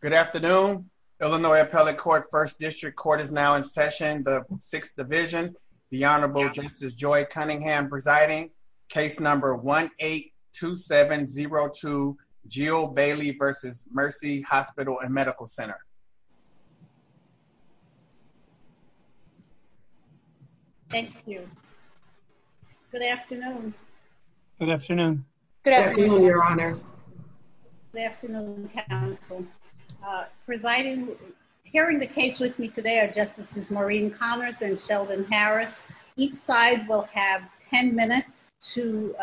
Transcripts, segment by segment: Good afternoon. Illinois Appellate Court First District Court is now in session. The Sixth Division, the Honorable Justice Joy Cunningham presiding, case number 1-8-2702, Jill Bailey v. Mercy Hospital and Medical Center. Thank you. Good afternoon. Good afternoon. Good afternoon, Your Honors. Good afternoon, Counsel. Presiding, hearing the case with me today are Justices Maureen Connors and Sheldon Harris. Each side will have 10 minutes to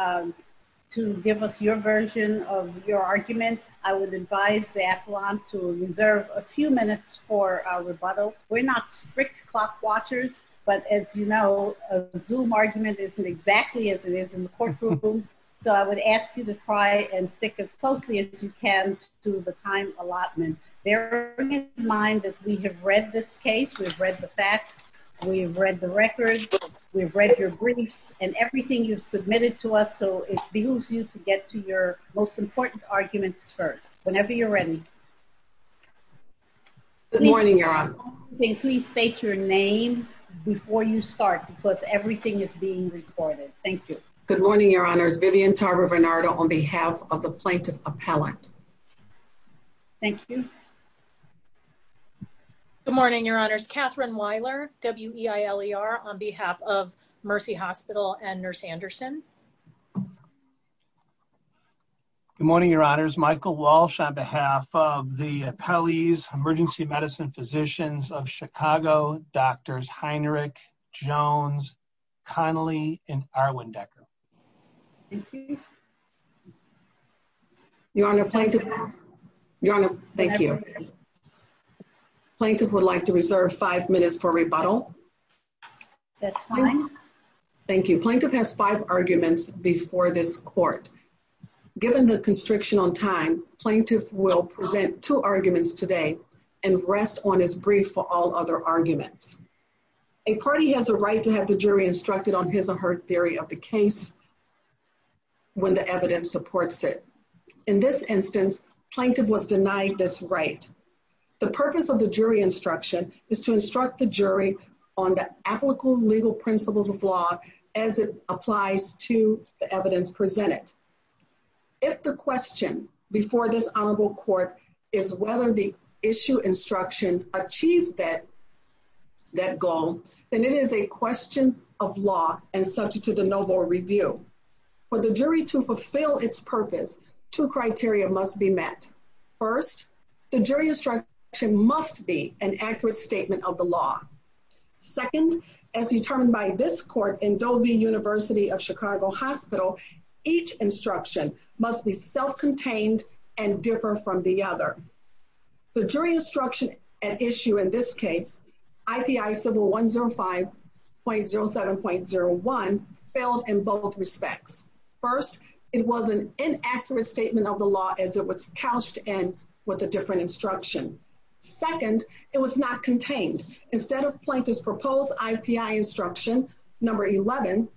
give us your version of your argument. I would advise the affluent to reserve a few minutes for our rebuttal. We're not strict clock watchers, but as you know, a Zoom argument isn't exactly as it is in the courtroom. So I would ask you to try and stick as closely as you can to the time allotment, bearing in mind that we have read this case, we've read the facts, we've read the records, we've read your briefs, and everything you've submitted to us. So it behooves you to get to your most important arguments first. Whenever you're ready. Good morning, Your Honor. Please state your name before you start because everything is being recorded. Thank you. Good morning, Your Honors. Vivian Tarver Bernardo on behalf of the Plaintiff Appellant. Thank you. Good morning, Your Honors. Kathryn Weiler, W-E-I-L-E-R, on behalf of Mercy Hospital and Nurse Anderson. Good morning, Your Honors. Michael Walsh on behalf of the Connelly and Irwin Decker. Thank you. Your Honor, Plaintiff would like to reserve five minutes for rebuttal. That's fine. Thank you. Plaintiff has five arguments before this court. Given the constriction on time, Plaintiff will present two arguments today and rest on his brief for all other arguments. A party has a right to have the jury instructed on his or her theory of the case when the evidence supports it. In this instance, Plaintiff was denied this right. The purpose of the jury instruction is to instruct the jury on the applicable legal principles of law as it applies to the evidence presented. If the question before this honorable court is whether the issue instruction achieves that goal, then it is a question of law and subject to the noble review. For the jury to fulfill its purpose, two criteria must be met. First, the jury instruction must be an accurate statement of the law. Second, as determined by this court in Dovey University of the jury instruction at issue in this case, IPI civil 105.07.01 failed in both respects. First, it was an inaccurate statement of the law as it was couched in with a different instruction. Second, it was not contained. Instead of Plaintiff's proposed IPI instruction, number 11,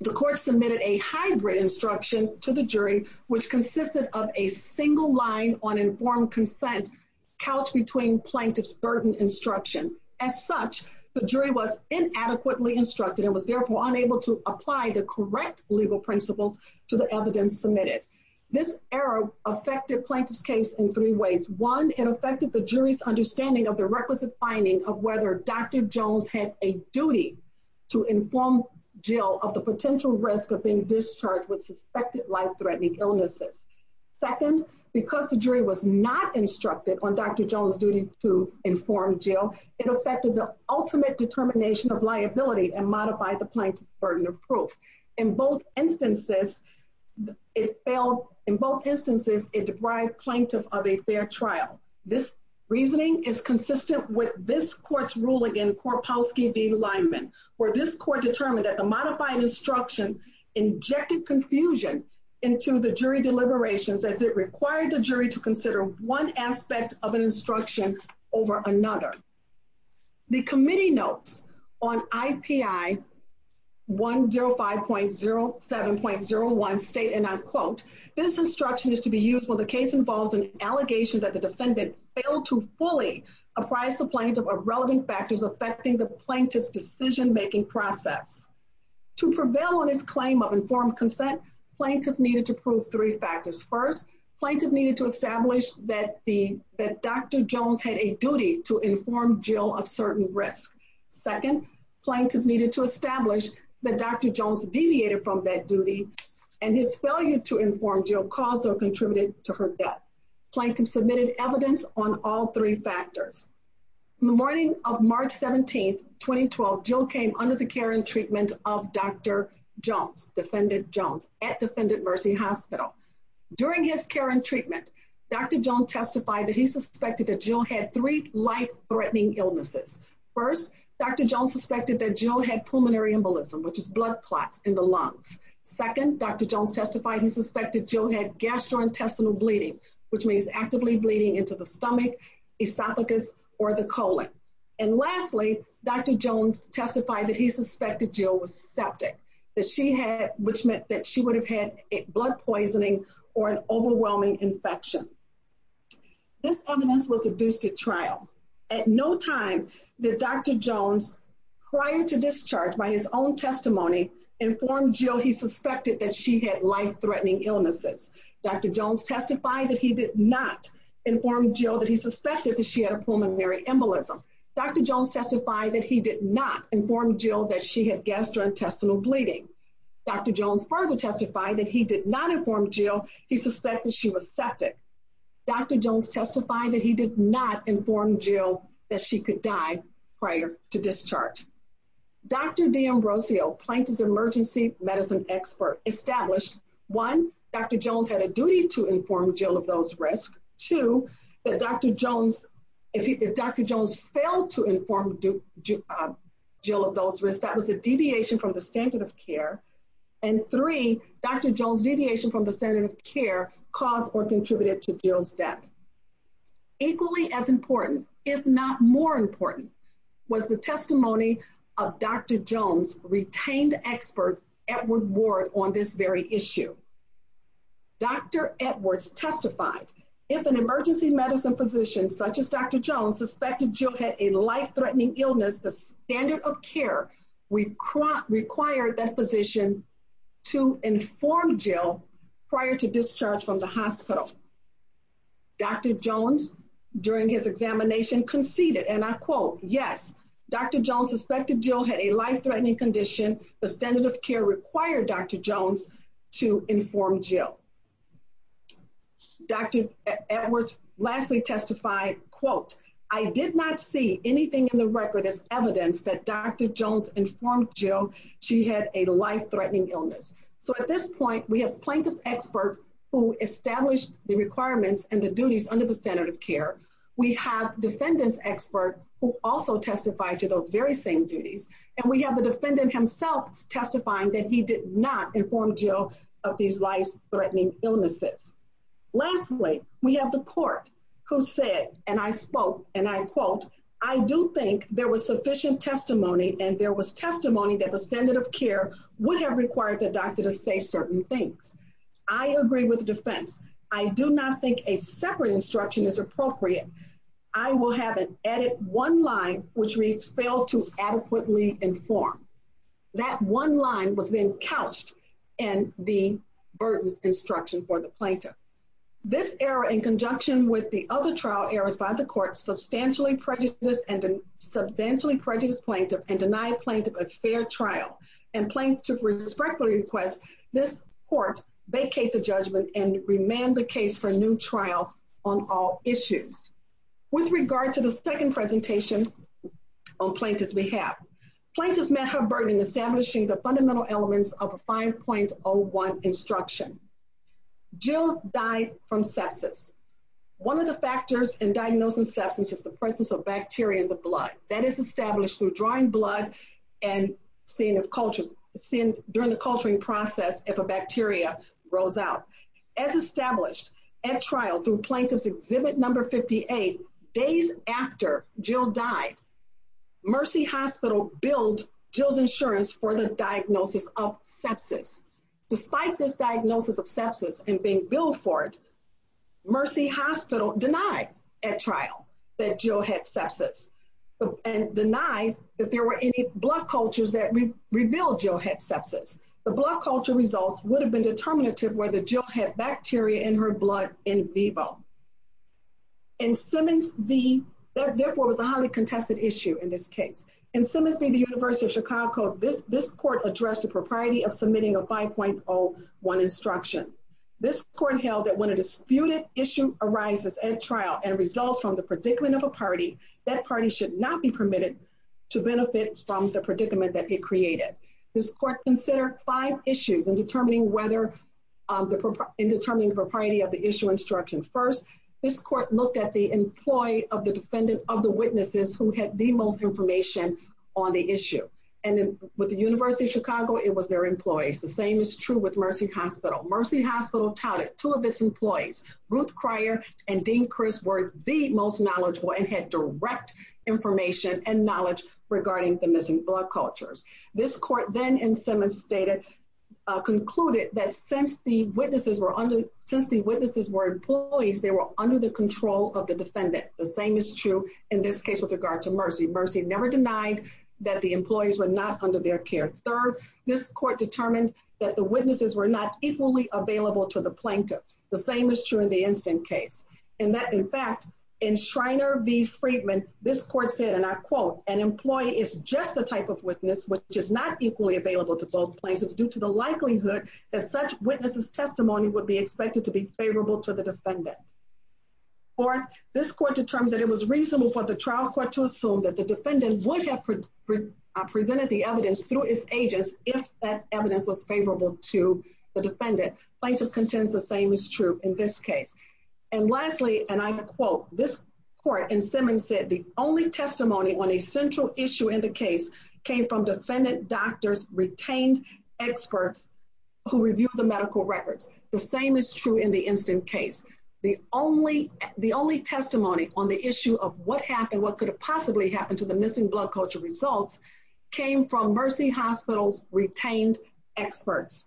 the court submitted a hybrid instruction to the jury which consisted of a single line on informed consent couched between Plaintiff's burden instruction. As such, the jury was inadequately instructed and was therefore unable to apply the correct legal principles to the evidence submitted. This error affected Plaintiff's case in three ways. One, it affected the jury's understanding of the requisite finding of whether Dr. Jones had a duty to inform Jill of the potential risk of discharge with suspected life-threatening illnesses. Second, because the jury was not instructed on Dr. Jones' duty to inform Jill, it affected the ultimate determination of liability and modified the Plaintiff's burden of proof. In both instances, it failed. In both instances, it deprived Plaintiff of a fair trial. This reasoning is consistent with this court's ruling in Korpowsky v. Lyman, where this court determined that the modified instruction injected confusion into the jury deliberations as it required the jury to consider one aspect of an instruction over another. The committee notes on IPI 105.07.01 state, and I quote, this instruction is to be used when the case involves an allegation that the defendant failed to fully apprise the Plaintiff of relevant factors affecting the Plaintiff's decision-making process. To prevail on his claim of informed consent, Plaintiff needed to prove three factors. First, Plaintiff needed to establish that Dr. Jones had a duty to inform Jill of certain risks. Second, Plaintiff needed to establish that Dr. Jones deviated from that duty and his failure to inform Jill caused or contributed to her death. Plaintiff submitted evidence on all three factors. On the morning of March 17, 2012, Jill came under the care and treatment of Dr. Jones, Defendant Jones, at Defendant Mercy Hospital. During his care and treatment, Dr. Jones testified that he suspected that Jill had three life-threatening illnesses. First, Dr. Jones suspected that Jill had pulmonary embolism, which is blood clots in the lungs. Second, Dr. Jones testified he suspected Jill had gastrointestinal bleeding, which means actively bleeding into the stomach, esophagus, or the colon. And lastly, Dr. Jones testified that he suspected Jill was septic, that she had, which meant that she would have had blood poisoning or an overwhelming infection. This evidence was adduced at trial. At no time did Dr. Jones, prior to discharge by his own will, testify that he did not inform Jill that he suspected that she had a pulmonary embolism. Dr. Jones testified that he did not inform Jill that she had gastrointestinal bleeding. Dr. Jones further testified that he did not inform Jill he suspected she was septic. Dr. Jones testified that he did not inform Jill that she could die prior to discharge. Dr. D'Ambrosio, Plaintiff's emergency medicine expert, established, one, Dr. Jones had a duty to inform Jill of those risks. Two, that Dr. Jones, if Dr. Jones failed to inform Jill of those risks, that was a deviation from the standard of care. And three, Dr. Jones' deviation from the standard of care caused or contributed to Jill's death. Equally as important, if not more important, was the testimony of Dr. Jones' retained expert, Edward Ward, on this very issue. Dr. Edwards testified, if an emergency medicine physician such as Dr. Jones suspected Jill had a life-threatening illness, the standard of care required that physician to inform Jill prior to discharge. And I quote, yes, Dr. Jones suspected Jill had a life-threatening condition. The standard of care required Dr. Jones to inform Jill. Dr. Edwards lastly testified, quote, I did not see anything in the record as evidence that Dr. Jones informed Jill she had a life-threatening illness. So at this point, we have plaintiff's expert who established the requirements and the duties under the standard of care. We have defendant's expert who also testified to those very same duties. And we have the defendant himself testifying that he did not inform Jill of these life-threatening illnesses. Lastly, we have the court who said, and I spoke, and I quote, I do think there was sufficient testimony and there was testimony that the standard of care would have required the doctor to say certain things. I agree with defense. I do not think a separate instruction is appropriate. I will have an edit one line, which reads fail to adequately inform. That one line was then couched in the burdens instruction for the plaintiff. This error in conjunction with the other trial errors by the court substantially prejudiced plaintiff and denied plaintiff a fair trial and plaintiff respectfully request this court vacate the judgment and remand the case for a new trial on all issues. With regard to the second presentation on plaintiff's behalf, plaintiff met her burden in establishing the fundamental elements of a 5.01 instruction. Jill died from sepsis. One of the factors in diagnosing sepsis is the presence of bacteria in the blood. That is established through drawing blood and during the culturing process, if a bacteria rose out. As established at trial through plaintiff's exhibit number 58, days after Jill died, Mercy Hospital billed Jill's insurance for the diagnosis of sepsis. Despite this diagnosis of sepsis and being billed for it, Mercy Hospital denied at trial that Jill had sepsis and denied that there were any blood cultures that revealed Jill had sepsis. The blood culture results would have been determinative whether Jill had bacteria in her blood in vivo. In Simmons v., therefore, it was a highly contested issue in this case. In Simmons v. The University of Chicago, this court addressed the propriety of submitting a 5.01 instruction. This court held that when a disputed issue arises at trial and results from the predicament of a party, that party should not be permitted to benefit from the predicament that it created. This court considered five issues in determining the propriety of the issue instruction. First, this court looked at the employee of the defendant of the witnesses who had the most information on the issue. With the University of Chicago, it was their employees. The same is true with Mercy Hospital. Mercy Hospital touted two of its employees. Ruth had direct information and knowledge regarding the missing blood cultures. This court then in Simmons stated, concluded that since the witnesses were employees, they were under the control of the defendant. The same is true in this case with regard to Mercy. Mercy never denied that the employees were not under their care. Third, this court determined that the witnesses were not equally available to the plaintiff. The same is true in the Instant Case. In fact, in Schreiner v. Friedman, this court said, and I quote, an employee is just the type of witness which is not equally available to both plaintiffs due to the likelihood that such witnesses testimony would be expected to be favorable to the defendant. Fourth, this court determined that it was reasonable for the trial court to assume that the defendant would have presented the evidence through its agents if that evidence was favorable to the defendant. Plaintiff contends the same is true in this case. And lastly, and I quote, this court in Simmons said, the only testimony on a central issue in the case came from defendant doctors retained experts who reviewed the medical records. The same is true in the Instant Case. The only testimony on the issue of what happened, what could have possibly happened to the missing blood culture came from Mercy Hospital's retained experts.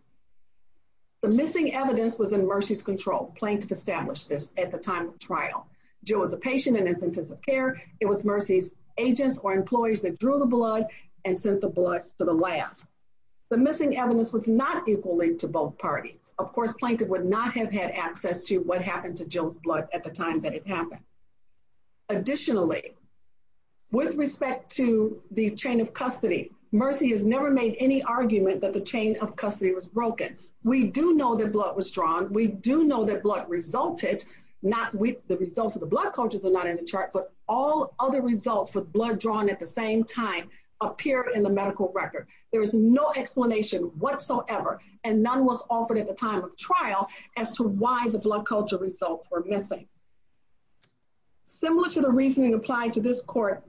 The missing evidence was in Mercy's control. Plaintiff established this at the time of trial. Jill was a patient in Instant Case of Care. It was Mercy's agents or employees that drew the blood and sent the blood to the lab. The missing evidence was not equally to both parties. Of course, plaintiff would not have had access to what happened to Jill's chain of custody. Mercy has never made any argument that the chain of custody was broken. We do know that blood was drawn. We do know that blood resulted not with the results of the blood cultures are not in the chart, but all other results for blood drawn at the same time appear in the medical record. There is no explanation whatsoever and none was offered at the time of trial as to why the blood culture results were missing. Similar to the reasoning applied to this court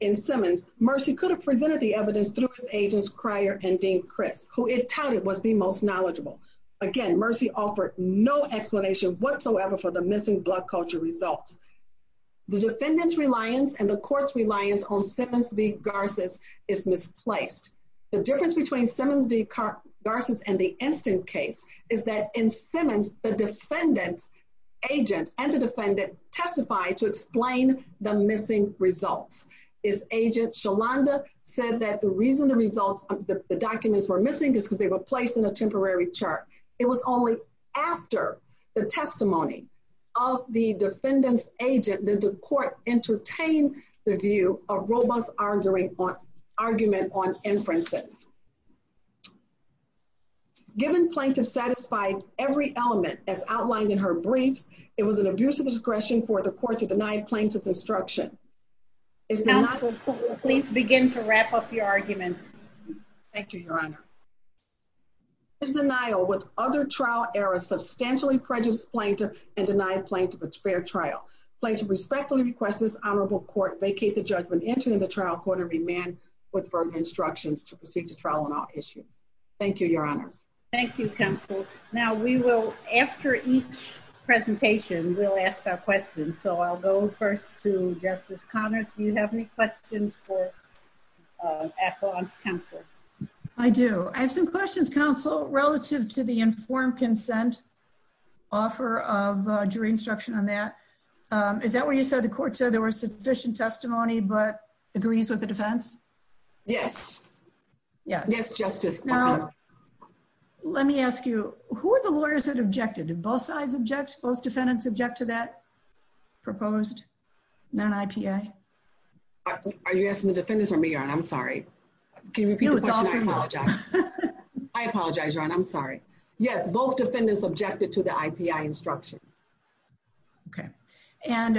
in Simmons, Mercy could have presented the evidence through his agents, Cryer and Dean Criss, who it touted was the most knowledgeable. Again, Mercy offered no explanation whatsoever for the missing blood culture results. The defendant's reliance and the court's reliance on Simmons v. Garces is misplaced. The difference between Simmons v. Garces and the Instant Case is that the defendant's agent and the defendant testified to explain the missing results. His agent, Sholanda, said that the reason the documents were missing is because they were placed in a temporary chart. It was only after the testimony of the defendant's agent that the court entertained the view of robust argument on inferences. Given plaintiff satisfied every element as outlined in her briefs, it was an abuse of discretion for the court to deny plaintiff's instruction. Counsel, please begin to wrap up your argument. Thank you, your honor. There is denial with other trial errors substantially prejudice plaintiff and denied plaintiff a fair trial. Plaintiff respectfully requests this honorable court vacate the judgment entered in the trial court and remand with verbal instructions to proceed to trial on all issues. Thank you, your honors. Thank you, counsel. Now we will, after each presentation, we'll ask our questions. So I'll go first to Justice Connors. Do you have any questions for affluence counsel? I do. I have some questions, counsel, relative to the informed consent offer of jury instruction on that. Is that where you said the court said there was sufficient testimony but agrees with the defense? Yes. Yes, justice. Now, let me ask you, who are the lawyers that objected? Both sides object? Both defendants object to that proposed non-IPA? Are you asking the defendants or me, your honor? I'm sorry. Can you repeat the question? I apologize. I apologize, your honor. I'm sorry. Yes, both defendants objected to the IPA instruction. Okay. And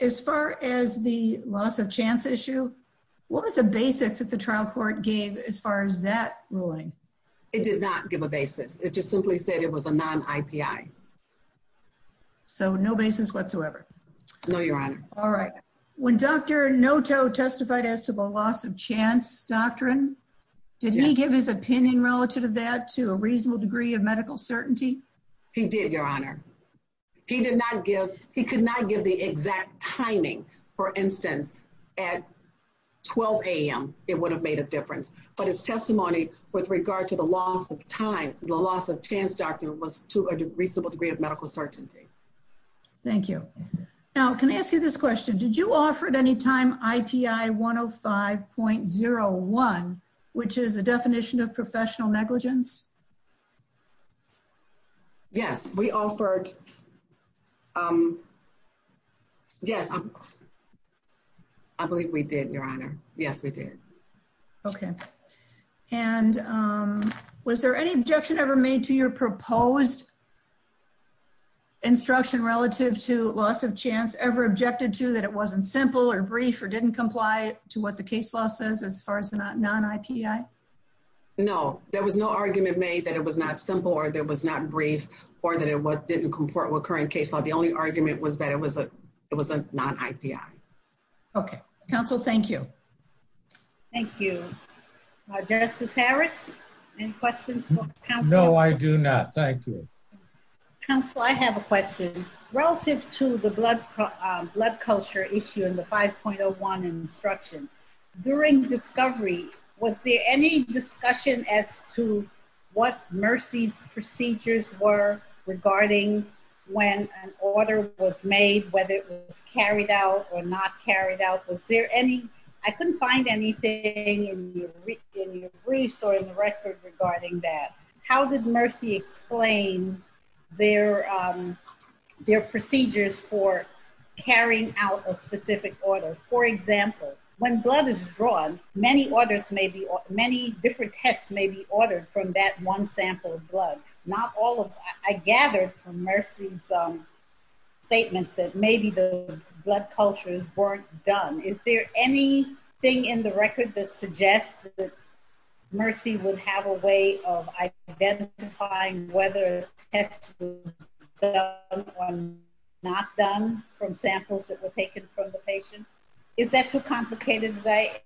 as far as the loss of chance issue, what was the basics that the trial court gave as far as that ruling? It did not give a basis. It just simply said it was a non-IPA. So no basis whatsoever? No, your honor. All right. When Dr. Noto testified as to the loss of chance doctrine, did he give his opinion relative to that to a reasonable degree of medical certainty? He did, your honor. He did not give, he could not give the exact timing. For instance, at 12 a.m. it would have made a difference. But his testimony with regard to the loss of time, the loss of chance doctrine was to a reasonable degree of medical certainty. Thank you. Now, can I ask you this question? Did you offer at any time IPI 105.01, which is the definition of professional negligence? Yes, we offered. Yes, I believe we did, your honor. Yes, we did. Okay. And was there any objection ever made to your proposed instruction relative to loss of chance ever objected to that it wasn't simple or brief or didn't comply to what the case law says as far as the non-IPI? No, there was no argument made that it was not simple or there was not brief or that it didn't comport with current case law. The only argument was that it was a non-IPI. Okay. Counsel, thank you. Thank you. Justice Harris, any questions for counsel? No, I do not. Thank you. Counsel, I have a question. Relative to the blood culture issue in the 5.01 instruction, during discovery, was there any discussion as to what Mercy's procedures were regarding when an order was made, whether it was carried out or not carried out? I couldn't find anything in your briefs or in the record regarding that. How did Mercy explain their procedures for carrying out a specific order? For example, when blood is drawn, many different tests may be done. Is there anything in the record that suggests that Mercy would have a way of identifying whether a test was done or not done from samples that were taken from the patient? Is that too complicated? I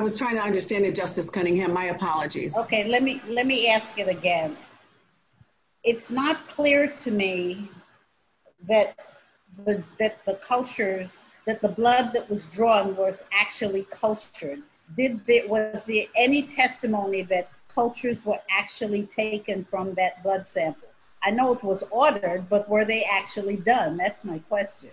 was trying to understand it, Justice Cunningham. My apologies. Let me ask it again. It's not clear to me that the blood that was drawn was actually cultured. Was there any testimony that cultures were actually taken from that blood sample? I know it was ordered, but were they actually done? That's my question.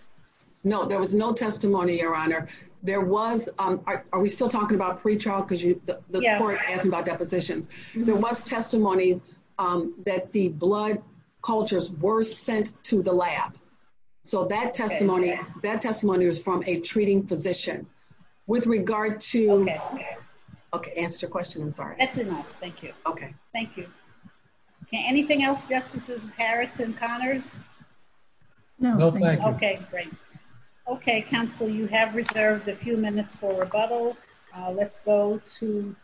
No, there was no testimony, Your Honor. Are we still talking about pre-trial? The court asked about depositions. There was testimony that the blood cultures were sent to the lab. That testimony was from a treating physician. That answers your question, I'm sorry. That's enough, thank you. Anything else, Justices Harris and Connors? No, thank you. Okay, great. Okay, counsel, you have reserved a few minutes for rebuttal. Let's go to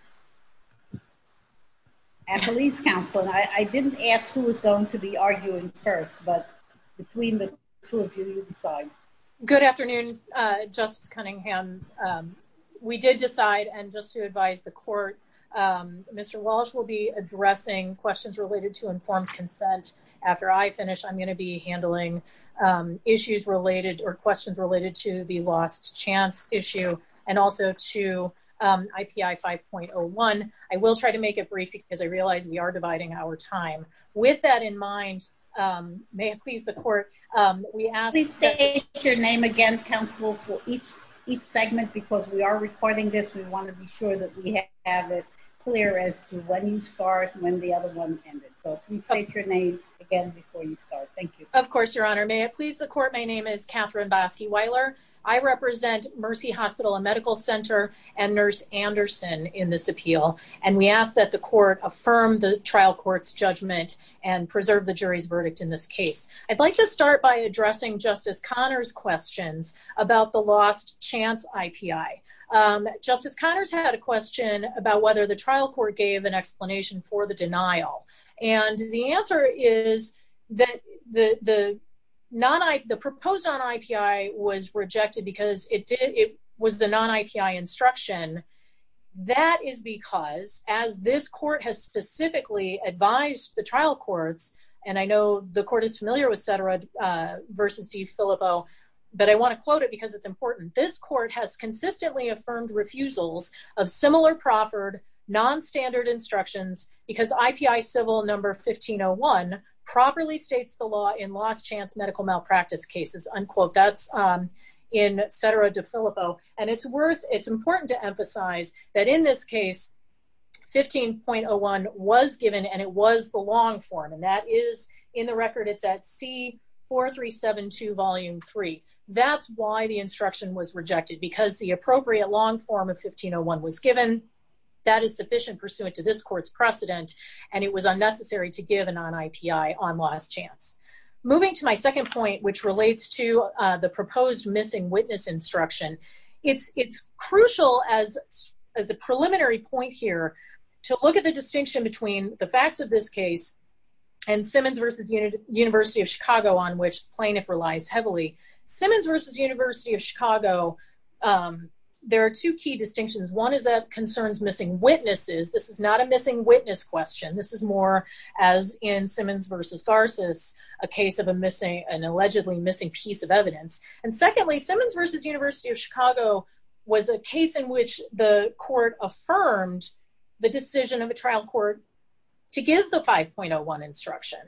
Attalee's counsel. I didn't ask who was going to be arguing first, but between the two of you, you decide. Good afternoon, Justice Cunningham. We did decide, and just to advise the court, Mr. Walsh will be addressing questions related to informed consent after I finish. I'm going to be handling issues related or questions related to the lost chance issue and also to IPI 5.01. I will try to make it brief because I realize we are dividing our time. With that in mind, may it please the court, please state your name again, counsel, for each segment, because we are recording this. We want to be sure that we have it clear as to when you start, when the other one ended. So please state your name again before you start. Thank you. Of course, Your Honor. May it please the court, my name is Katherine Bosky-Weiler. I represent Mercy Hospital and Medical Center and Nurse Anderson in this appeal, and we ask that the court affirm the trial court's judgment and preserve the jury's verdict in this case. I'd like to start by asking a question about whether the trial court gave an explanation for the denial, and the answer is that the proposed non-IPI was rejected because it was the non-IPI instruction. That is because, as this court has specifically advised the trial courts, and I know the court is familiar with Sedera v. DeFillibo, but I want to quote it because it's important. This court has consistently affirmed refusals of similar proffered, non-standard instructions because IPI civil number 1501 properly states the law in lost chance medical malpractice cases, unquote. That's in Sedera v. DeFillibo, and it's worth, it's important to emphasize that in this case, 15.01 was given, and it was the long form, and that is in the record, it's at C-4372, volume 3. That's why the instruction was rejected, because the appropriate long form of 15.01 was given. That is sufficient pursuant to this court's precedent, and it was unnecessary to give a non-IPI on lost chance. Moving to my second point, which relates to the proposed missing witness instruction, it's crucial as a preliminary point here to look at the distinction between the facts of this case and Simmons v. University of Chicago, on which plaintiff relies heavily, Simmons v. University of Chicago, there are two key distinctions. One is that concerns missing witnesses. This is not a missing witness question. This is more as in Simmons v. Garces, a case of a missing, an allegedly missing piece of evidence. And secondly, Simmons v. University of Chicago was a case in which the court affirmed the decision of a trial court to give the 5.01 instruction.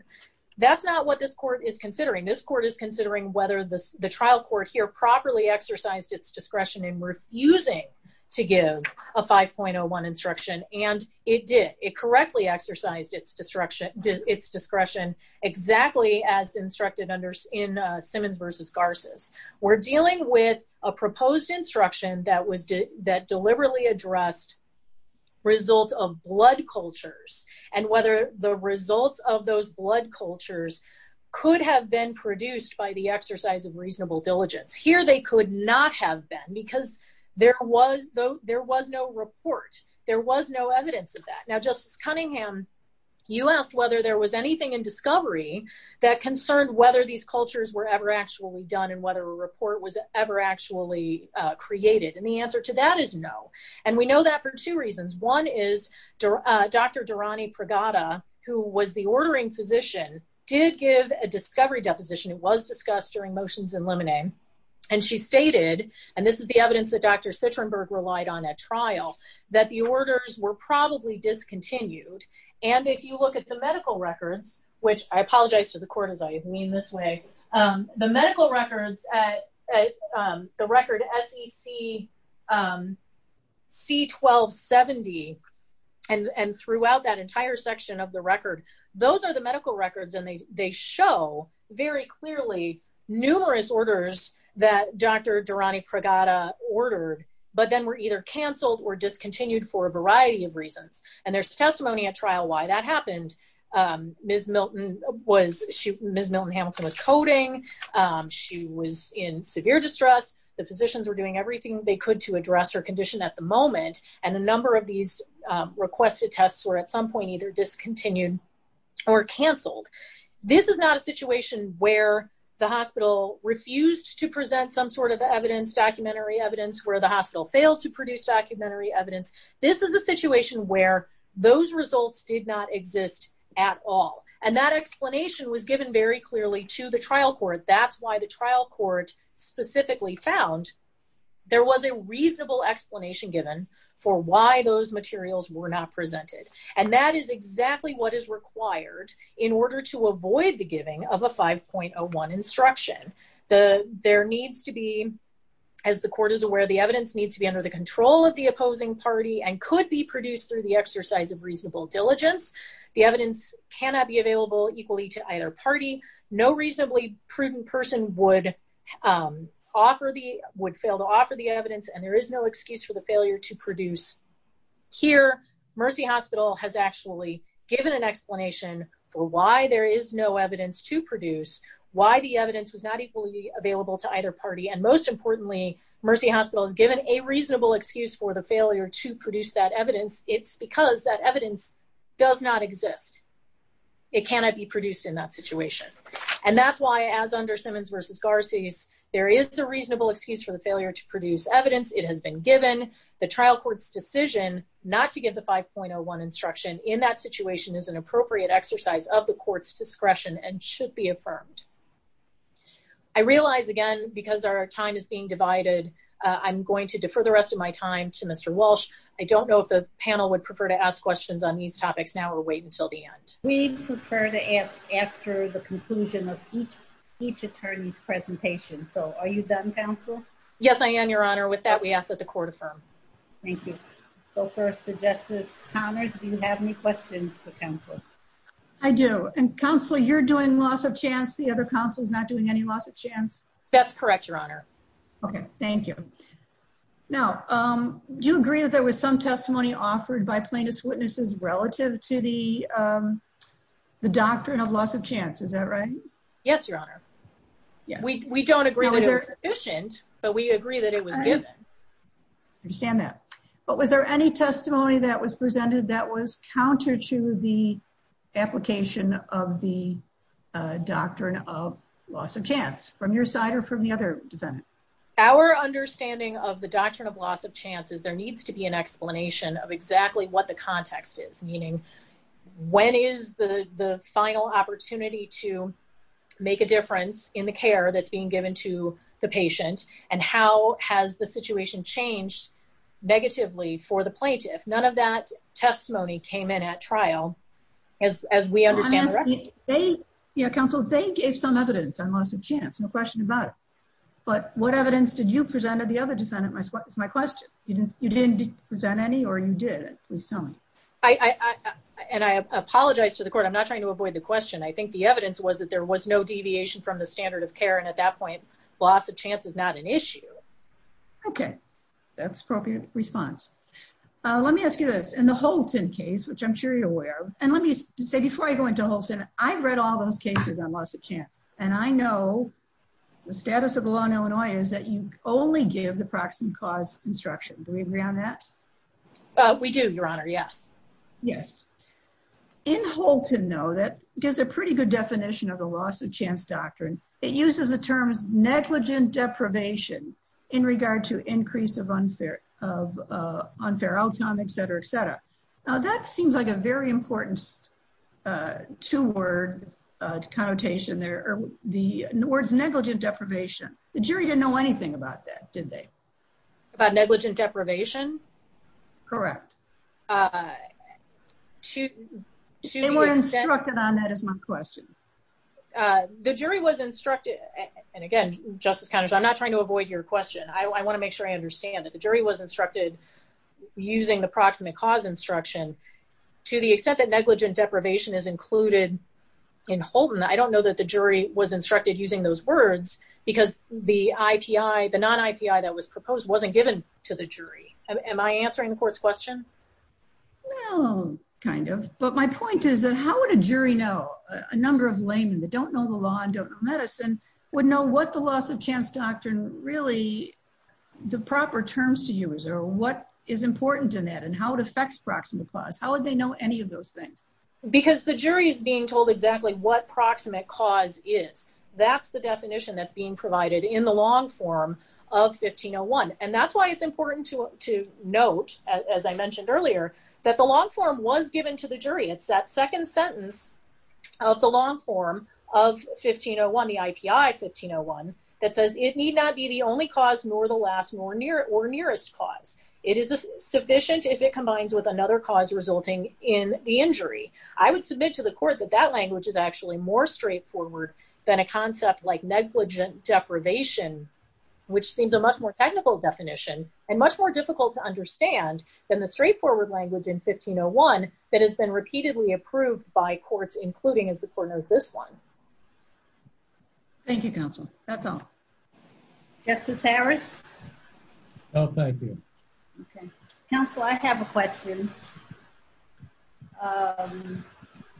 That's not what this court is considering. This court is considering whether the trial court here properly exercised its discretion in refusing to give a 5.01 instruction, and it did. It correctly exercised its discretion exactly as instructed in Simmons v. Garces. We're dealing with a proposed instruction that deliberately addressed results of blood cultures, and whether the results of those blood cultures could have been produced by the exercise of reasonable diligence. Here, they could not have been because there was no report. There was no evidence of that. Now, Justice Cunningham, you asked whether there was anything in discovery that concerned whether these cultures were ever actually done and whether a report was ever actually created. And the answer to that is no. And we know that for two reasons. One is Dr. Durrani Pragada, who was the ordering physician, did give a discovery deposition. It was discussed during motions in limine. And she stated, and this is the evidence that Dr. Sitrenberg relied on at trial, that the orders were probably discontinued. And if you look at the medical records, which I apologize to the court, as I mean this way, the medical records, at the record SEC C-1270, and throughout that entire section of the record, those are the medical records and they show very clearly numerous orders that Dr. Durrani Pragada ordered, but then were either canceled or discontinued for a variety of reasons. And there's testimony at trial why that happened. Ms. Milton Hamilton was coding. She was in severe distress. The physicians were doing everything they could to address her condition at the moment. And a number of these requested tests were at some point either discontinued or canceled. This is not a situation where the hospital refused to present some sort of evidence, documentary evidence, where the hospital failed to produce documentary evidence. This is a situation where those results did not exist at all. And that explanation was given very clearly to the trial court. That's why the trial court specifically found there was a reasonable explanation given for why those materials were not presented. And that is exactly what is required in order to avoid the giving of a 5.01 instruction. There needs to be, as the court is aware, the evidence needs to be under the The evidence cannot be available equally to either party. No reasonably prudent person would offer the, would fail to offer the evidence, and there is no excuse for the failure to produce. Here, Mercy Hospital has actually given an explanation for why there is no evidence to produce, why the evidence was not equally available to either party, and most importantly, Mercy Hospital has given a reasonable excuse for the failure to produce that evidence. It's because that evidence does not exist. It cannot be produced in that situation. And that's why, as under Simmons v. Garcia, there is a reasonable excuse for the failure to produce evidence. It has been given. The trial court's decision not to give the 5.01 instruction in that situation is an appropriate exercise of the court's discretion and should be affirmed. I realize, again, because our time is being divided, I'm going to defer the rest of my time to Mr. Walsh. I don't know if the panel would prefer to ask questions on these topics now or wait until the end. We prefer to ask after the conclusion of each attorney's presentation. So are you done, counsel? Yes, I am, Your Honor. With that, we ask that the court affirm. Thank you. So first, Justice Connors, do you have any questions for counsel? I do. And counsel, you're doing loss of chance. The other counsel is not doing any loss of chance. That's correct, Your Honor. Okay, was some testimony offered by plaintiff's witnesses relative to the doctrine of loss of chance. Is that right? Yes, Your Honor. We don't agree that it's sufficient, but we agree that it was given. I understand that. But was there any testimony that was presented that was counter to the application of the doctrine of loss of chance from your side or from the other defendant? Our understanding of the doctrine of loss of chance is there needs to be an explanation of exactly what the context is, meaning when is the final opportunity to make a difference in the care that's being given to the patient? And how has the situation changed negatively for the plaintiff? None of that testimony came in at trial as we understand. Yeah, counsel, they gave some evidence on loss of chance, no question about it. But what evidence did you present or the other defendant? That's my question. You didn't present any or you did? Please tell me. And I apologize to the court. I'm not trying to avoid the question. I think the evidence was that there was no deviation from the standard of care. And at that point, loss of chance is not an issue. Okay, that's appropriate response. Let me ask you this. In the Holton case, which I'm sure you're aware of, and let me say before I go into Holton, I've read all those cases on loss of chance. And I know the status of the law in Illinois is that you only give the proximate cause instruction. Do we agree on that? We do, your honor. Yes. Yes. In Holton, though, that gives a pretty good definition of the loss of chance doctrine. It uses the terms negligent deprivation in regard to increase of unfair outcome, et cetera, et cetera. Now, that seems like a very important two word connotation there. The words negligent deprivation, the jury didn't know anything about that, did they? About negligent deprivation? Correct. They were instructed on that is my question. The jury was instructed, and again, Justice Connors, I'm not trying to avoid your question. I want to make sure I understand that the jury was instructed using the proximate cause instruction. To the extent that negligent deprivation is included in Holton, I don't know that the jury was instructed using those words because the non-IPI that was proposed wasn't given to the jury. Am I answering the court's question? Well, kind of. But my point is that how would a jury know? A number of laymen that don't know the law and don't know medicine would know what the loss of chance doctrine really, the proper terms to use, or what is proximate cause? How would they know any of those things? Because the jury is being told exactly what proximate cause is. That's the definition that's being provided in the long form of 1501. And that's why it's important to note, as I mentioned earlier, that the long form was given to the jury. It's that second sentence of the long form of 1501, the IPI 1501, that says, it need not be the only cause nor the last nor nearest cause. It is sufficient if it combines with another cause resulting in the injury. I would submit to the court that that language is actually more straightforward than a concept like negligent deprivation, which seems a much more technical definition and much more difficult to understand than the straightforward language in 1501 that has been repeatedly approved by courts, including, as the court knows, this one. Thank you, counsel. That's all. Justice Harris? No, thank you. Okay. Counsel, I have a question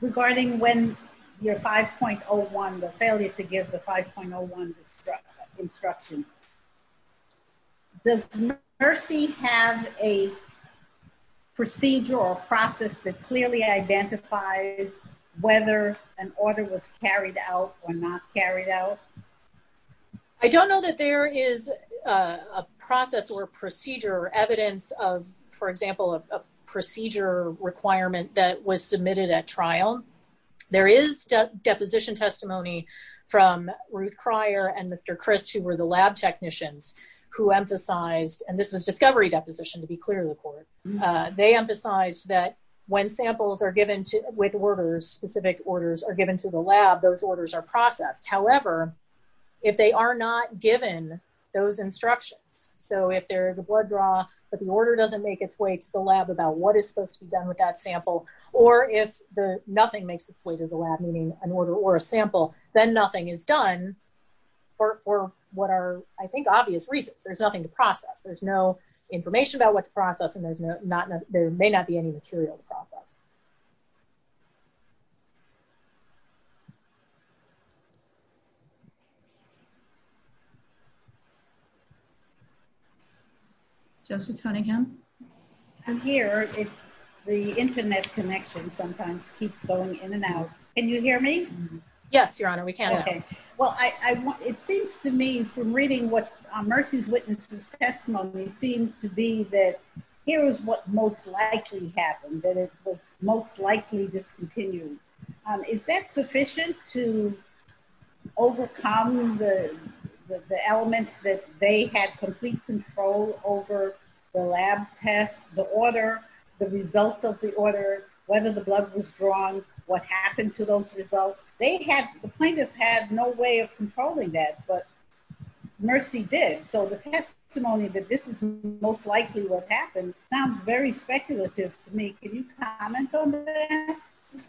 regarding when your 5.01, the failure to give the 5.01 instruction. Does Mercy have a carried out? I don't know that there is a process or a procedure or evidence of, for example, a procedure requirement that was submitted at trial. There is deposition testimony from Ruth Cryer and Mr. Crist, who were the lab technicians, who emphasized, and this was discovery deposition to be clear to the court. They emphasized that when samples are given with orders, specific are processed. However, if they are not given those instructions, so if there is a blood draw, but the order doesn't make its way to the lab about what is supposed to be done with that sample, or if nothing makes its way to the lab, meaning an order or a sample, then nothing is done for what are, I think, obvious reasons. There's nothing to process. There's no information about what to process, and there may not be any material to process. Thank you. Justice Cunningham? I'm here. The internet connection sometimes keeps going in and out. Can you hear me? Yes, Your Honor. We can. Okay. Well, it seems to me from reading what Mercy's witness testimony seems to be that here is what most likely happened, that it was most likely discontinued. Is that sufficient to overcome the elements that they had complete control over, the lab test, the order, the results of the order, whether the blood was drawn, what happened to those results? The plaintiff had no way of controlling that, but Mercy did, so the testimony that this is most likely what happened sounds very speculative to me. Can you comment on that?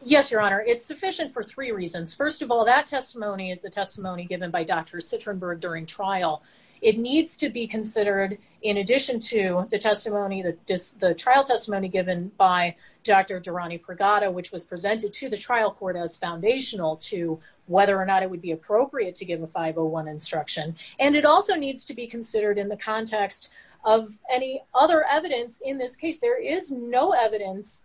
Yes, Your Honor. It's sufficient for three reasons. First of all, that testimony is the testimony given by Dr. Sitrenberg during trial. It needs to be considered in addition to the trial testimony given by Dr. Durrani-Pregada, which was presented to the trial court as foundational to whether or not it would be appropriate to give a 501 instruction, and it also needs to be considered in the context of any other evidence in this case. There is no evidence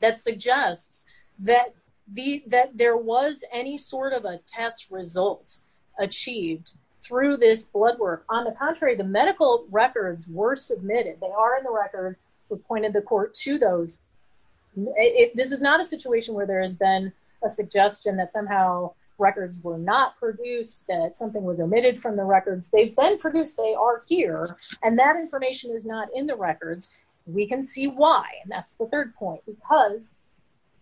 that suggests that there was any sort of a test result achieved through this blood work. On the contrary, the medical records were submitted. They are in the record. We've pointed the court to those. This is not a situation where there has been a suggestion that somehow records were not produced, that something was omitted from the records. They've been produced. They are here, and that information is not in the records. We can see why, and that's the third point, because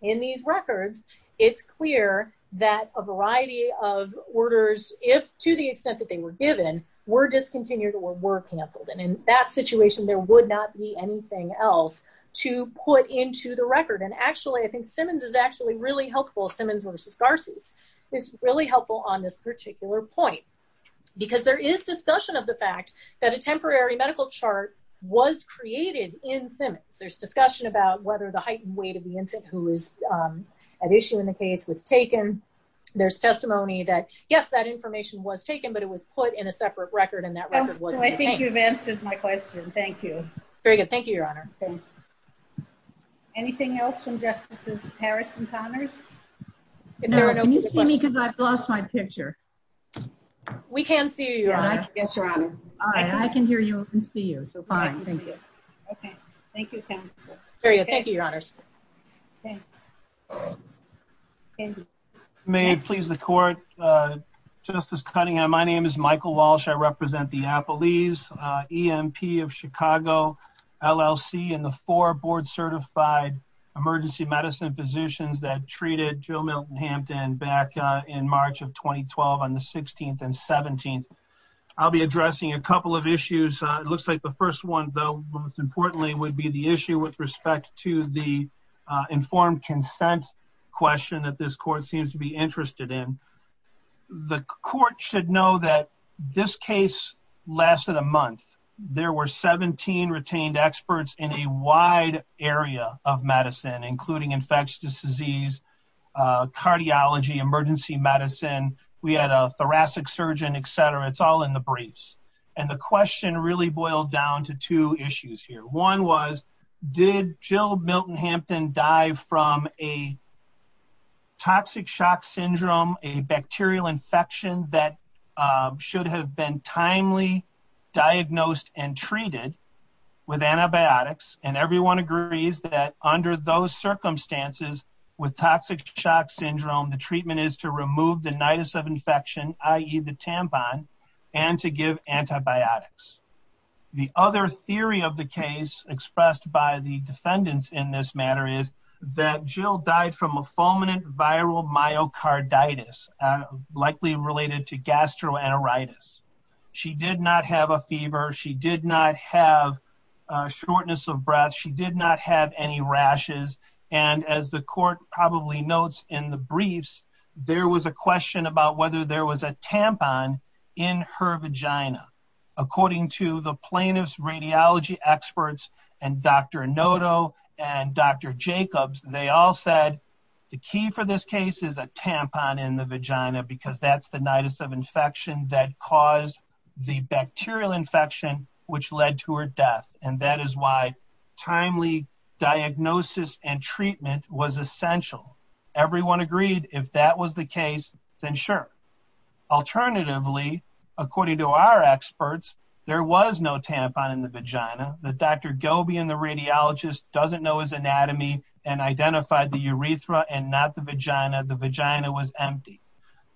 in these records, it's clear that a variety of orders, if to the extent that they were given, were discontinued or were canceled, and in that situation, there would not be anything else to put into the record, and actually, I think Simmons is actually really helpful. Simmons v. Garces is really helpful on this particular point, because there is discussion of the fact that a temporary medical chart was created in Simmons. There's discussion about whether the height and weight of the infant who was at issue in the case was taken. There's testimony that, yes, that information was taken, but it was put in a separate record, and that record wasn't retained. I think you've answered my question. Thank you. Very good. Thank you, Your Honor. Anything else from Justices Harris and Connors? No. Can you see me, because I've lost my picture? We can see you, Your Honor. Yes, Your Honor. All right. I can hear you. I can see you, so fine. Thank you. Okay. Thank you, counsel. Thank you, Your Honors. May it please the Court. Justice Cunningham, my name is Michael Walsh. I represent the Appalese EMP of Chicago, LLC, and the four board-certified emergency medicine physicians that treated Joe Milton Hampton back in March of 2012 on the 16th and 17th. I'll be addressing a couple of issues. It looks like the first one, though, most importantly, would be the issue with respect to the informed consent question that this Court seems to be interested in. The Court should know that this case lasted a month. There were 17 retained experts in a wide area of medicine, including infectious disease, cardiology, emergency medicine. We had a thoracic surgeon, etc. It's all in the briefs. The question really boiled down to two issues here. One was, did Joe Milton Hampton die from a toxic shock syndrome, a bacterial infection that should have been timely diagnosed and treated with antibiotics? And everyone agrees that under those circumstances with toxic shock syndrome, the treatment is to remove the nidus of infection, i.e. the tampon, and to give antibiotics. The other theory of the case expressed by the defendants in this matter is that Jill died from a fulminant viral myocarditis, likely related to gastroenteritis. She did not have a fever. She did not have shortness of breath. She did not have any rashes. And as the Court probably notes in the plaintiff's radiology experts and Dr. Noto and Dr. Jacobs, they all said the key for this case is a tampon in the vagina because that's the nidus of infection that caused the bacterial infection, which led to her death. And that is why timely diagnosis and treatment was essential. Everyone no tampon in the vagina. The Dr. Gobey and the radiologist doesn't know his anatomy and identified the urethra and not the vagina. The vagina was empty.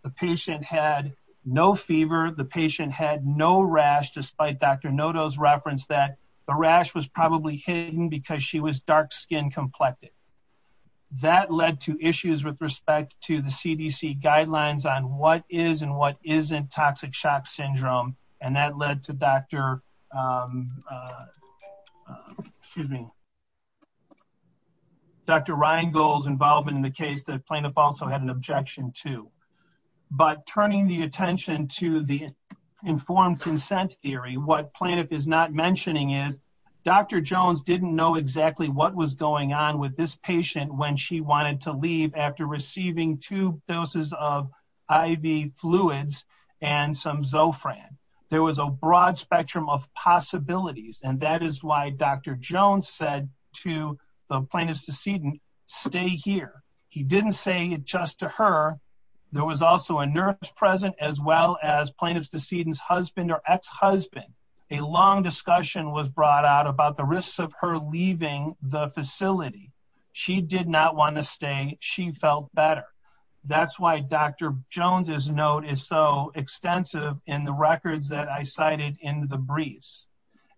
The patient had no fever. The patient had no rash, despite Dr. Noto's reference that the rash was probably hidden because she was dark skin complected. That led to issues with respect to the CDC guidelines on what is and what not to do. Dr. Reingold's involvement in the case, the plaintiff also had an objection to. But turning the attention to the informed consent theory, what plaintiff is not mentioning is Dr. Jones didn't know exactly what was going on with this patient when she wanted to leave after receiving two doses of IV fluids and some Zofran. There was a broad spectrum of possibilities and that is why Dr. Jones said to the plaintiff's decedent, stay here. He didn't say it just to her. There was also a nurse present as well as plaintiff's decedent's husband or ex-husband. A long discussion was brought out about the risks of her leaving the facility. She did not want to say she felt better. That's why Dr. Jones's note is so extensive in the records that I cited in the briefs.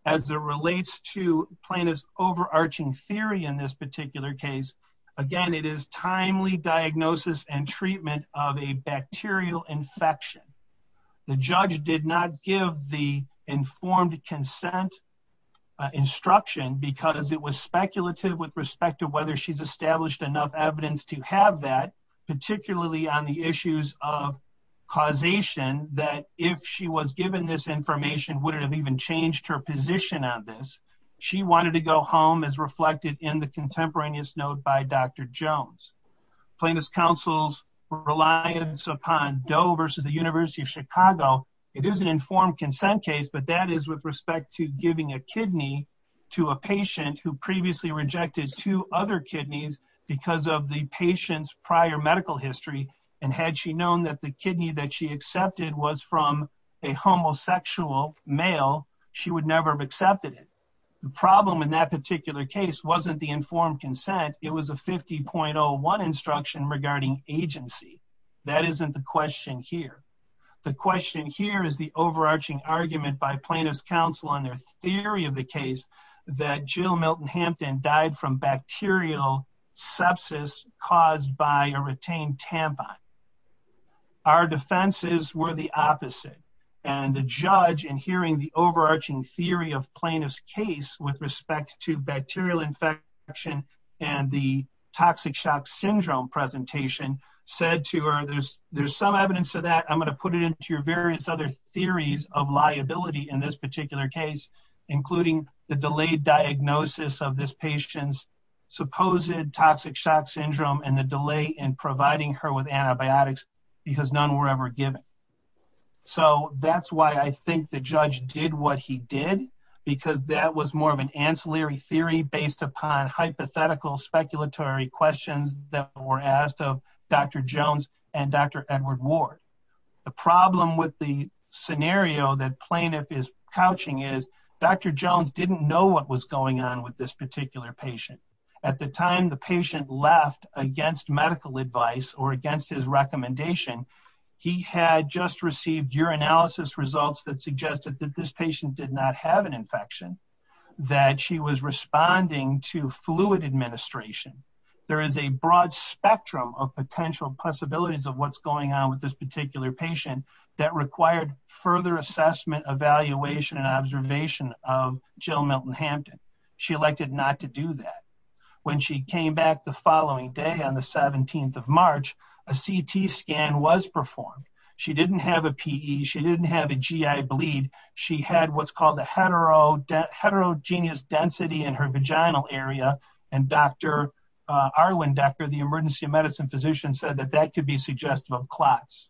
As it relates to plaintiff's overarching theory in this particular case, again it is timely diagnosis and treatment of a bacterial infection. The judge did not give the informed consent instruction because it was speculative with respect to whether she's established enough evidence to have that, particularly on the issues of causation that if she was given this information would it have even changed her position on this. She wanted to go home as reflected in the contemporaneous note by Dr. Jones. Plaintiff's counsel's reliance upon Doe versus the University of Chicago. It is an informed consent case, but that is with respect to giving a kidney to a patient who previously rejected two other kidneys because of the patient's prior medical history. Had she known that the kidney that she accepted was from a homosexual male, she would never have accepted it. The problem in that particular case wasn't the informed consent. It was a 50.01 instruction regarding agency. That isn't the question here. The question here is the overarching argument by plaintiff's counsel on their theory of the case that Jill Milton-Hampton died from bacterial sepsis caused by a retained tampon. Our defenses were the opposite and the judge in hearing the overarching theory of plaintiff's case with respect to bacterial infection and the toxic shock syndrome presentation said to her, there's some evidence to that. I'm going to put it into your various other theories of liability in this particular case, including the delayed diagnosis of this patient's supposed toxic shock syndrome and the delay in providing her with antibiotics because none were ever given. That's why I think the judge did what he did because that was more of an ancillary theory based upon hypothetical speculatory questions that were asked of Dr. Jones and Dr. Edward Ward. The problem with the scenario that plaintiff is couching is Dr. Jones didn't know what was going on with this particular patient. At the time the patient left against medical advice or against his recommendation, he had just received urinalysis results that suggested that this patient did not have an infection, that she was responding to fluid administration. There is a broad spectrum of potential possibilities of what's going on with this particular patient that required further assessment, evaluation, and observation of Jill Milton-Hampton. She elected not to do that. When she came back the following day on the 17th of March, a CT scan was performed. She didn't have a PE. She didn't have a GI bleed. She had what's called a heterogeneous density in her vaginal area and Dr. Arwin Decker, the emergency medicine physician, said that that could be suggestive of clots.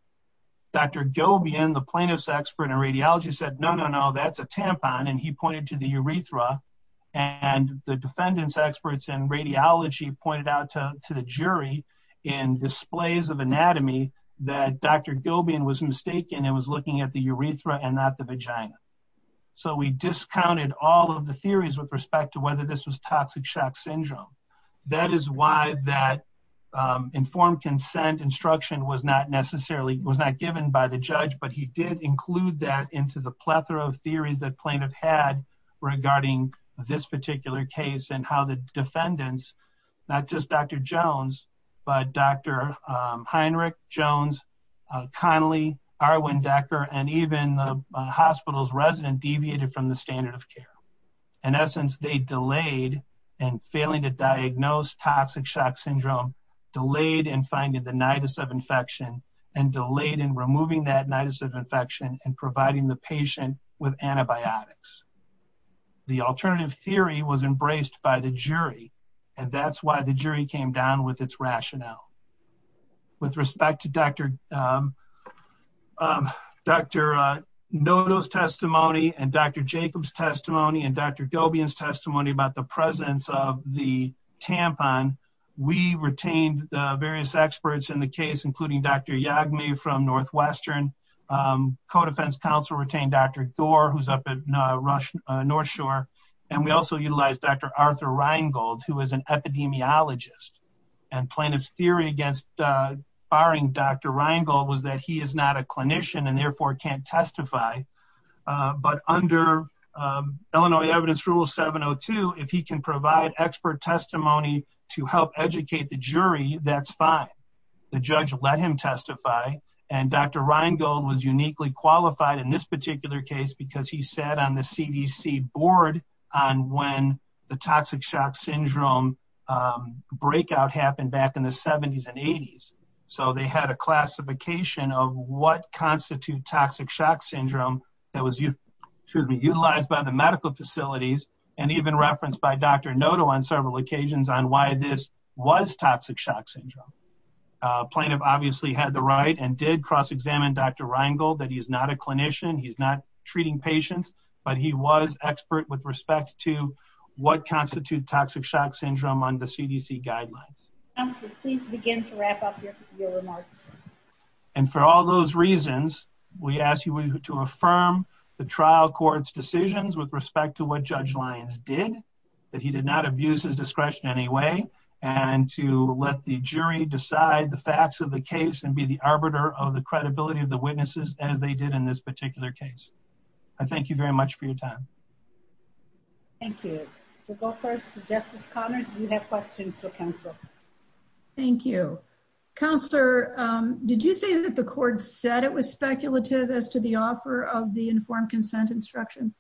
Dr. Gobian, the plaintiff's expert in radiology said, no, no, no, that's a tampon, and he pointed to the urethra. The defendants experts in radiology pointed out to the jury in displays of anatomy that Dr. Gobian was mistaken and was looking at the urethra and not the vagina. We discounted all of the theories with respect to whether this was toxic shock syndrome. That is why that informed consent instruction was not necessarily given by the judge, but he did include that into the plethora of theories that plaintiff had regarding this particular case and how the defendants, not just Dr. Jones, but Dr. Heinrich, Jones, Connelly, Arwin Decker, and even the hospital's resident deviated from the standard of care. In essence, they delayed and failing to diagnose toxic shock syndrome, delayed in finding the infection and providing the patient with antibiotics. The alternative theory was embraced by the jury, and that's why the jury came down with its rationale. With respect to Dr. Noto's testimony and Dr. Jacob's testimony and Dr. Gobian's testimony about the presence of the co-defense counsel retained Dr. Gore, who's up at North Shore. We also utilized Dr. Arthur Reingold, who is an epidemiologist. Plaintiff's theory against firing Dr. Reingold was that he is not a clinician and therefore can't testify, but under Illinois Evidence Rule 702, if he can provide expert testimony to help educate the jury, that's fine. The judge let him testify, and Dr. Reingold was uniquely qualified in this particular case because he sat on the CDC board on when the toxic shock syndrome breakout happened back in the 70s and 80s. They had a classification of what constitute toxic shock syndrome that was utilized by the medical facilities and even referenced by Dr. Noto on several occasions on why this was toxic shock syndrome. Plaintiff obviously had the right and did cross-examine Dr. Reingold that he is not a clinician, he's not treating patients, but he was expert with respect to what constitute toxic shock syndrome under CDC guidelines. Counselor, please begin to wrap up your remarks. And for all those reasons, we ask you to affirm the trial court's decisions with respect to what Judge Lyons did, that he did not abuse his discretion in any way, and to let the jury decide the facts of the case and be the arbiter of the credibility of the witnesses as they did in this particular case. I thank you very much for your time. Thank you. We'll go first to Justice Connors. You have questions for counsel. Thank you. Counselor, did you say that the court said it was speculative as to the of the informed consent instruction?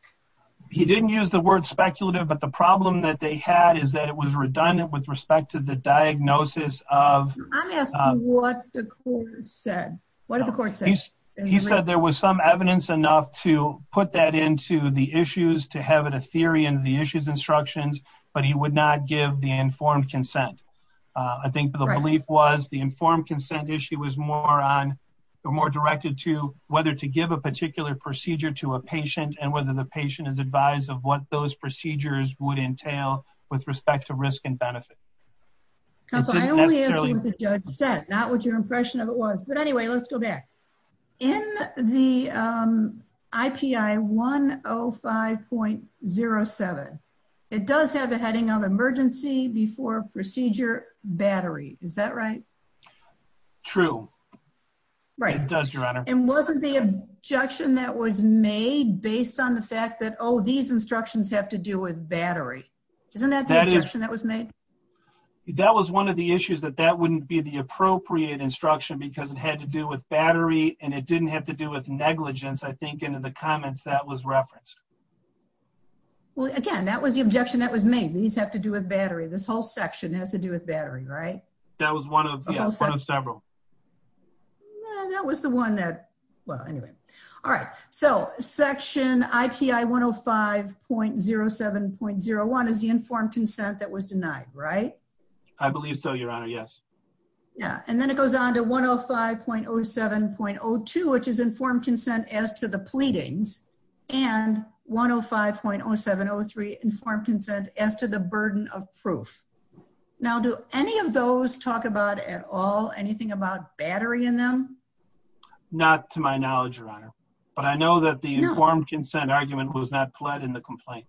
He didn't use the word speculative, but the problem that they had is that it was redundant with respect to the diagnosis of... I'm asking what the court said. What did the court say? He said there was some evidence enough to put that into the issues, to have it a theory in the issues instructions, but he would not give the informed consent. I think the belief was the informed consent issue was more on or more directed to whether to give a procedure to a patient and whether the patient is advised of what those procedures would entail with respect to risk and benefit. Counselor, I only asked what the judge said, not what your impression of it was, but anyway, let's go back. In the IPI 105.07, it does have the heading of procedure battery. Is that right? True. It does, your honor. And wasn't the objection that was made based on the fact that, oh, these instructions have to do with battery. Isn't that the objection that was made? That was one of the issues that that wouldn't be the appropriate instruction because it had to do with battery and it didn't have to do with negligence, I think, into the comments that was referenced. Well, again, that was the objection that was made. These have to do with battery. This whole section has to do with battery, right? That was one of several. That was the one that, well, anyway. All right. So section IPI 105.07.01 is the informed consent that was denied, right? I believe so, your honor. Yes. Yeah. And then it goes on to 105.07.02, which is informed consent as to the pleadings, and 105.07.03, informed consent as to the burden of proof. Now, do any of those talk about at all anything about battery in them? Not to my knowledge, your honor, but I know that the informed consent argument was not pled in the complaint.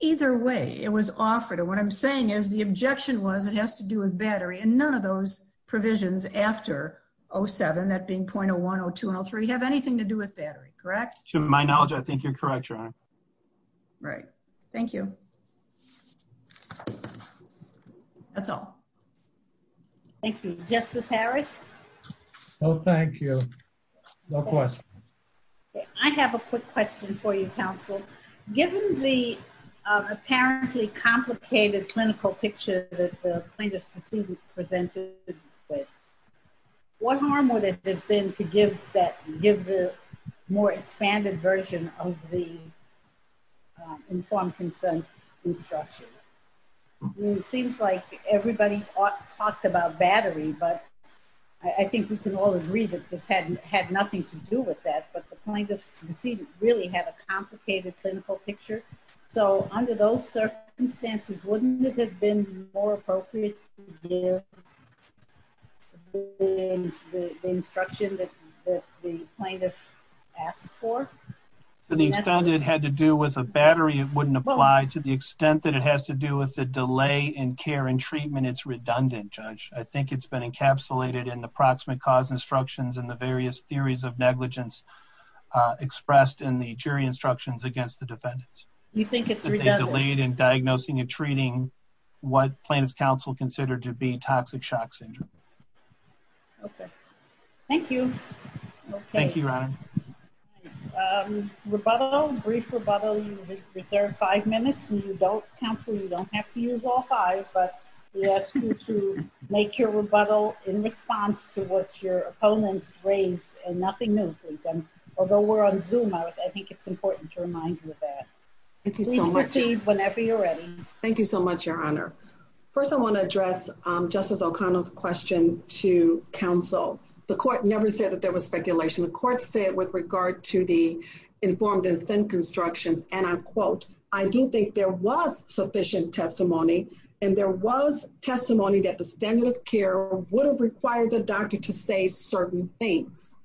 Either way, it was offered. And what I'm saying is the objection was it has to do with battery and none of those provisions after 07, that being 0.01, 0.02, and 0.03 have anything to do with battery, correct? To my knowledge, I think you're correct, your honor. Right. Thank you. That's all. Thank you. Justice Harris? No, thank you. No question. I have a quick question for you, counsel. Given the apparently complicated clinical picture that the plaintiff's decedent presented with, what harm would it have been to give the more expanded version of the informed consent instruction? It seems like everybody talked about battery, but I think we can all agree that this had nothing to do with that, but the plaintiff's decedent really had a complicated clinical picture. So under those circumstances, wouldn't it have been more appropriate to give the instruction that the plaintiff asked for? To the extent it had to do with a battery, it wouldn't apply. To the extent that it has to do with the delay in care and treatment, it's redundant, judge. I think it's been encapsulated in the proximate cause instructions and the various theories of negligence expressed in the jury instructions against the defendants. You think it's redundant? Delayed in diagnosing and treating what plaintiff's counsel considered to be toxic shock syndrome. Okay. Thank you. Thank you, your honor. Rebuttal, brief rebuttal. You reserve five minutes and you don't counsel. You don't have to use all five, but we ask you to make your rebuttal in response to what your opponents raised and nothing new. Although we're on Zoom, I think it's important to remind you of that. Please proceed whenever you're ready. Thank you so much, your honor. First, I want to address Justice O'Connell's question to counsel. The court never said that there was speculation. The court said with regard to the informed consent constructions, and I quote, I do think there was sufficient testimony and there was testimony that the standard of care would have required the doctor to say certain things.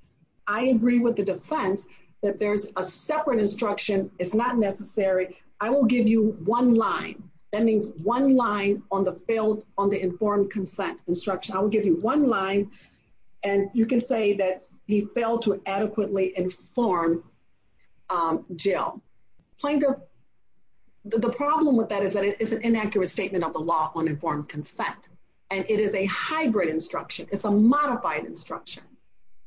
I agree with the defense that there's a separate instruction. It's not necessary. I will give you one line. That means one line on the failed, on the informed consent instruction. I will give you one line and you can say that he failed to adequately inform Jill. Plaintiff, the problem with that is that it is an inaccurate statement of the law on informed consent and it is a hybrid instruction. It's a modified instruction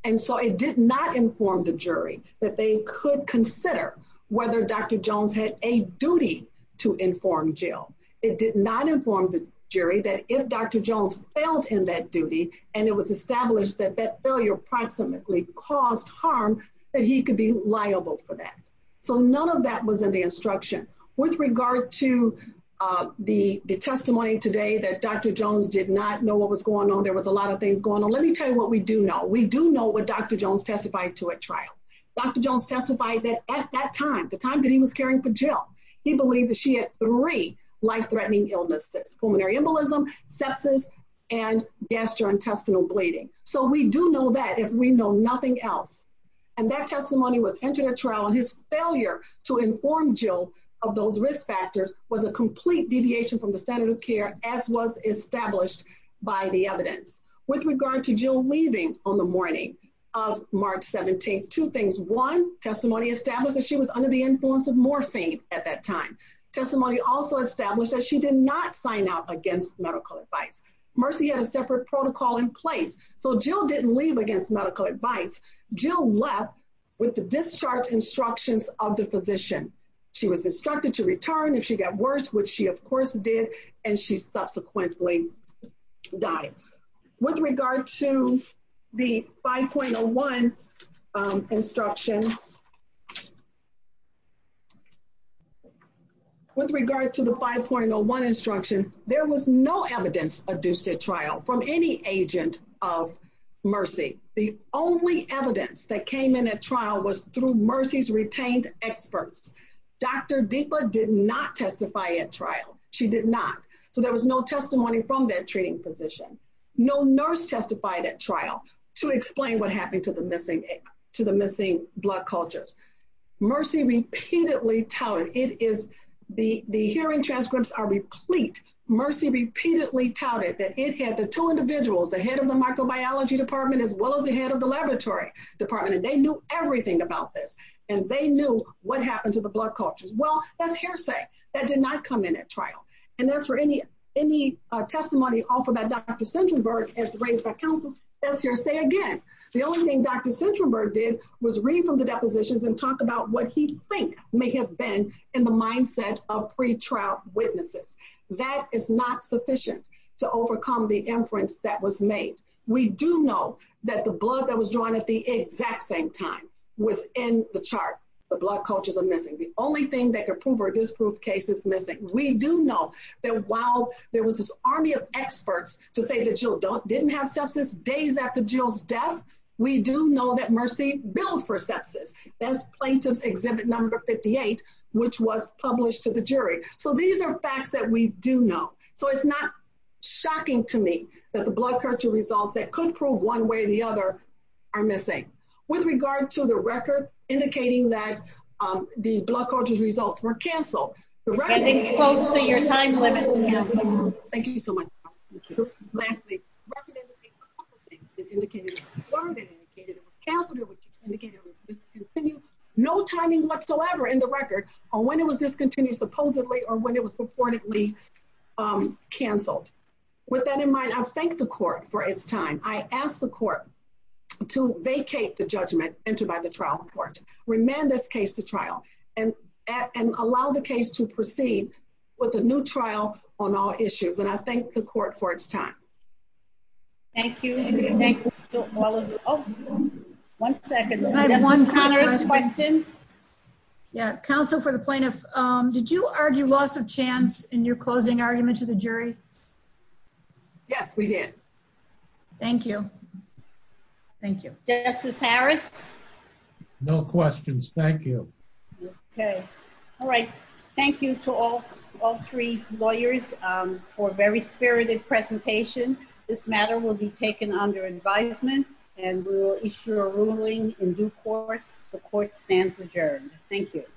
and so it did not inform the jury that they could consider whether Dr. Jones had a duty to inform Jill. It did not inform the jury that if Dr. Jones failed in that duty and it was established that that failure approximately caused harm, that he could be liable for that. So none of that was in the instruction. With regard to the testimony today that Dr. Jones did not know what was going on, there was a lot of things going on, let me tell you what we do know. We do know what Dr. Jones testified to at trial. Dr. Jones testified that at that time, the time that he was caring for Jill, he believed that she had three life-threatening illnesses, pulmonary embolism, sepsis, and gastrointestinal bleeding. So we do know that if we know nothing else. And that testimony was entered at trial and his failure to inform Jill of those risk factors was a complete deviation from the standard of care as was established by the evidence. With regard to Jill leaving on the morning of March 17th, two things. One, testimony established that she was under the influence of morphine at that time. Testimony also established that she did not sign out against medical advice. Mercy had a separate protocol in place so Jill didn't leave against medical advice. Jill left with the discharge instructions of the instructor to return if she got worse, which she of course did, and she subsequently died. With regard to the 5.01 instruction, with regard to the 5.01 instruction, there was no evidence adduced at trial from any agent of through Mercy's retained experts. Dr. Deepa did not testify at trial. She did not. So there was no testimony from that treating physician. No nurse testified at trial to explain what happened to the missing blood cultures. Mercy repeatedly touted, it is, the hearing transcripts are replete. Mercy repeatedly touted that it had the two individuals, the head of the about this and they knew what happened to the blood cultures. Well, that's hearsay. That did not come in at trial. And as for any testimony offered by Dr. Centenberg as raised by counsel, that's hearsay again. The only thing Dr. Centenberg did was read from the depositions and talk about what he think may have been in the mindset of pre-trial witnesses. That is not sufficient to overcome the inference that was made. We do know that the blood that was drawn at the exact same time was in the chart. The blood cultures are missing. The only thing that could prove her disproved case is missing. We do know that while there was this army of experts to say that Jill didn't have sepsis days after Jill's death, we do know that Mercy billed for sepsis as plaintiffs exhibit number 58, which was published to the jury. So these are facts that we do know. So it's not shocking to me that the blood culture results that could prove one way or the other are missing. With regard to the record indicating that the blood cultures results were canceled. Thank you so much. Lastly, no timing whatsoever in the record on when it was discontinued supposedly or when it was entered by the trial court. Remand this case to trial and allow the case to proceed with a new trial on all issues. And I thank the court for its time. Thank you. One second. Yeah. Counsel for the plaintiff. Did you argue loss of chance in your closing argument to the jury? Yes, we did. Thank you. Thank you. Justice Harris. No questions. Thank you. Okay. All right. Thank you to all all three lawyers for very spirited presentation. This matter will be taken under advisement and we will issue a ruling in due course. The court stands adjourned. Thank you.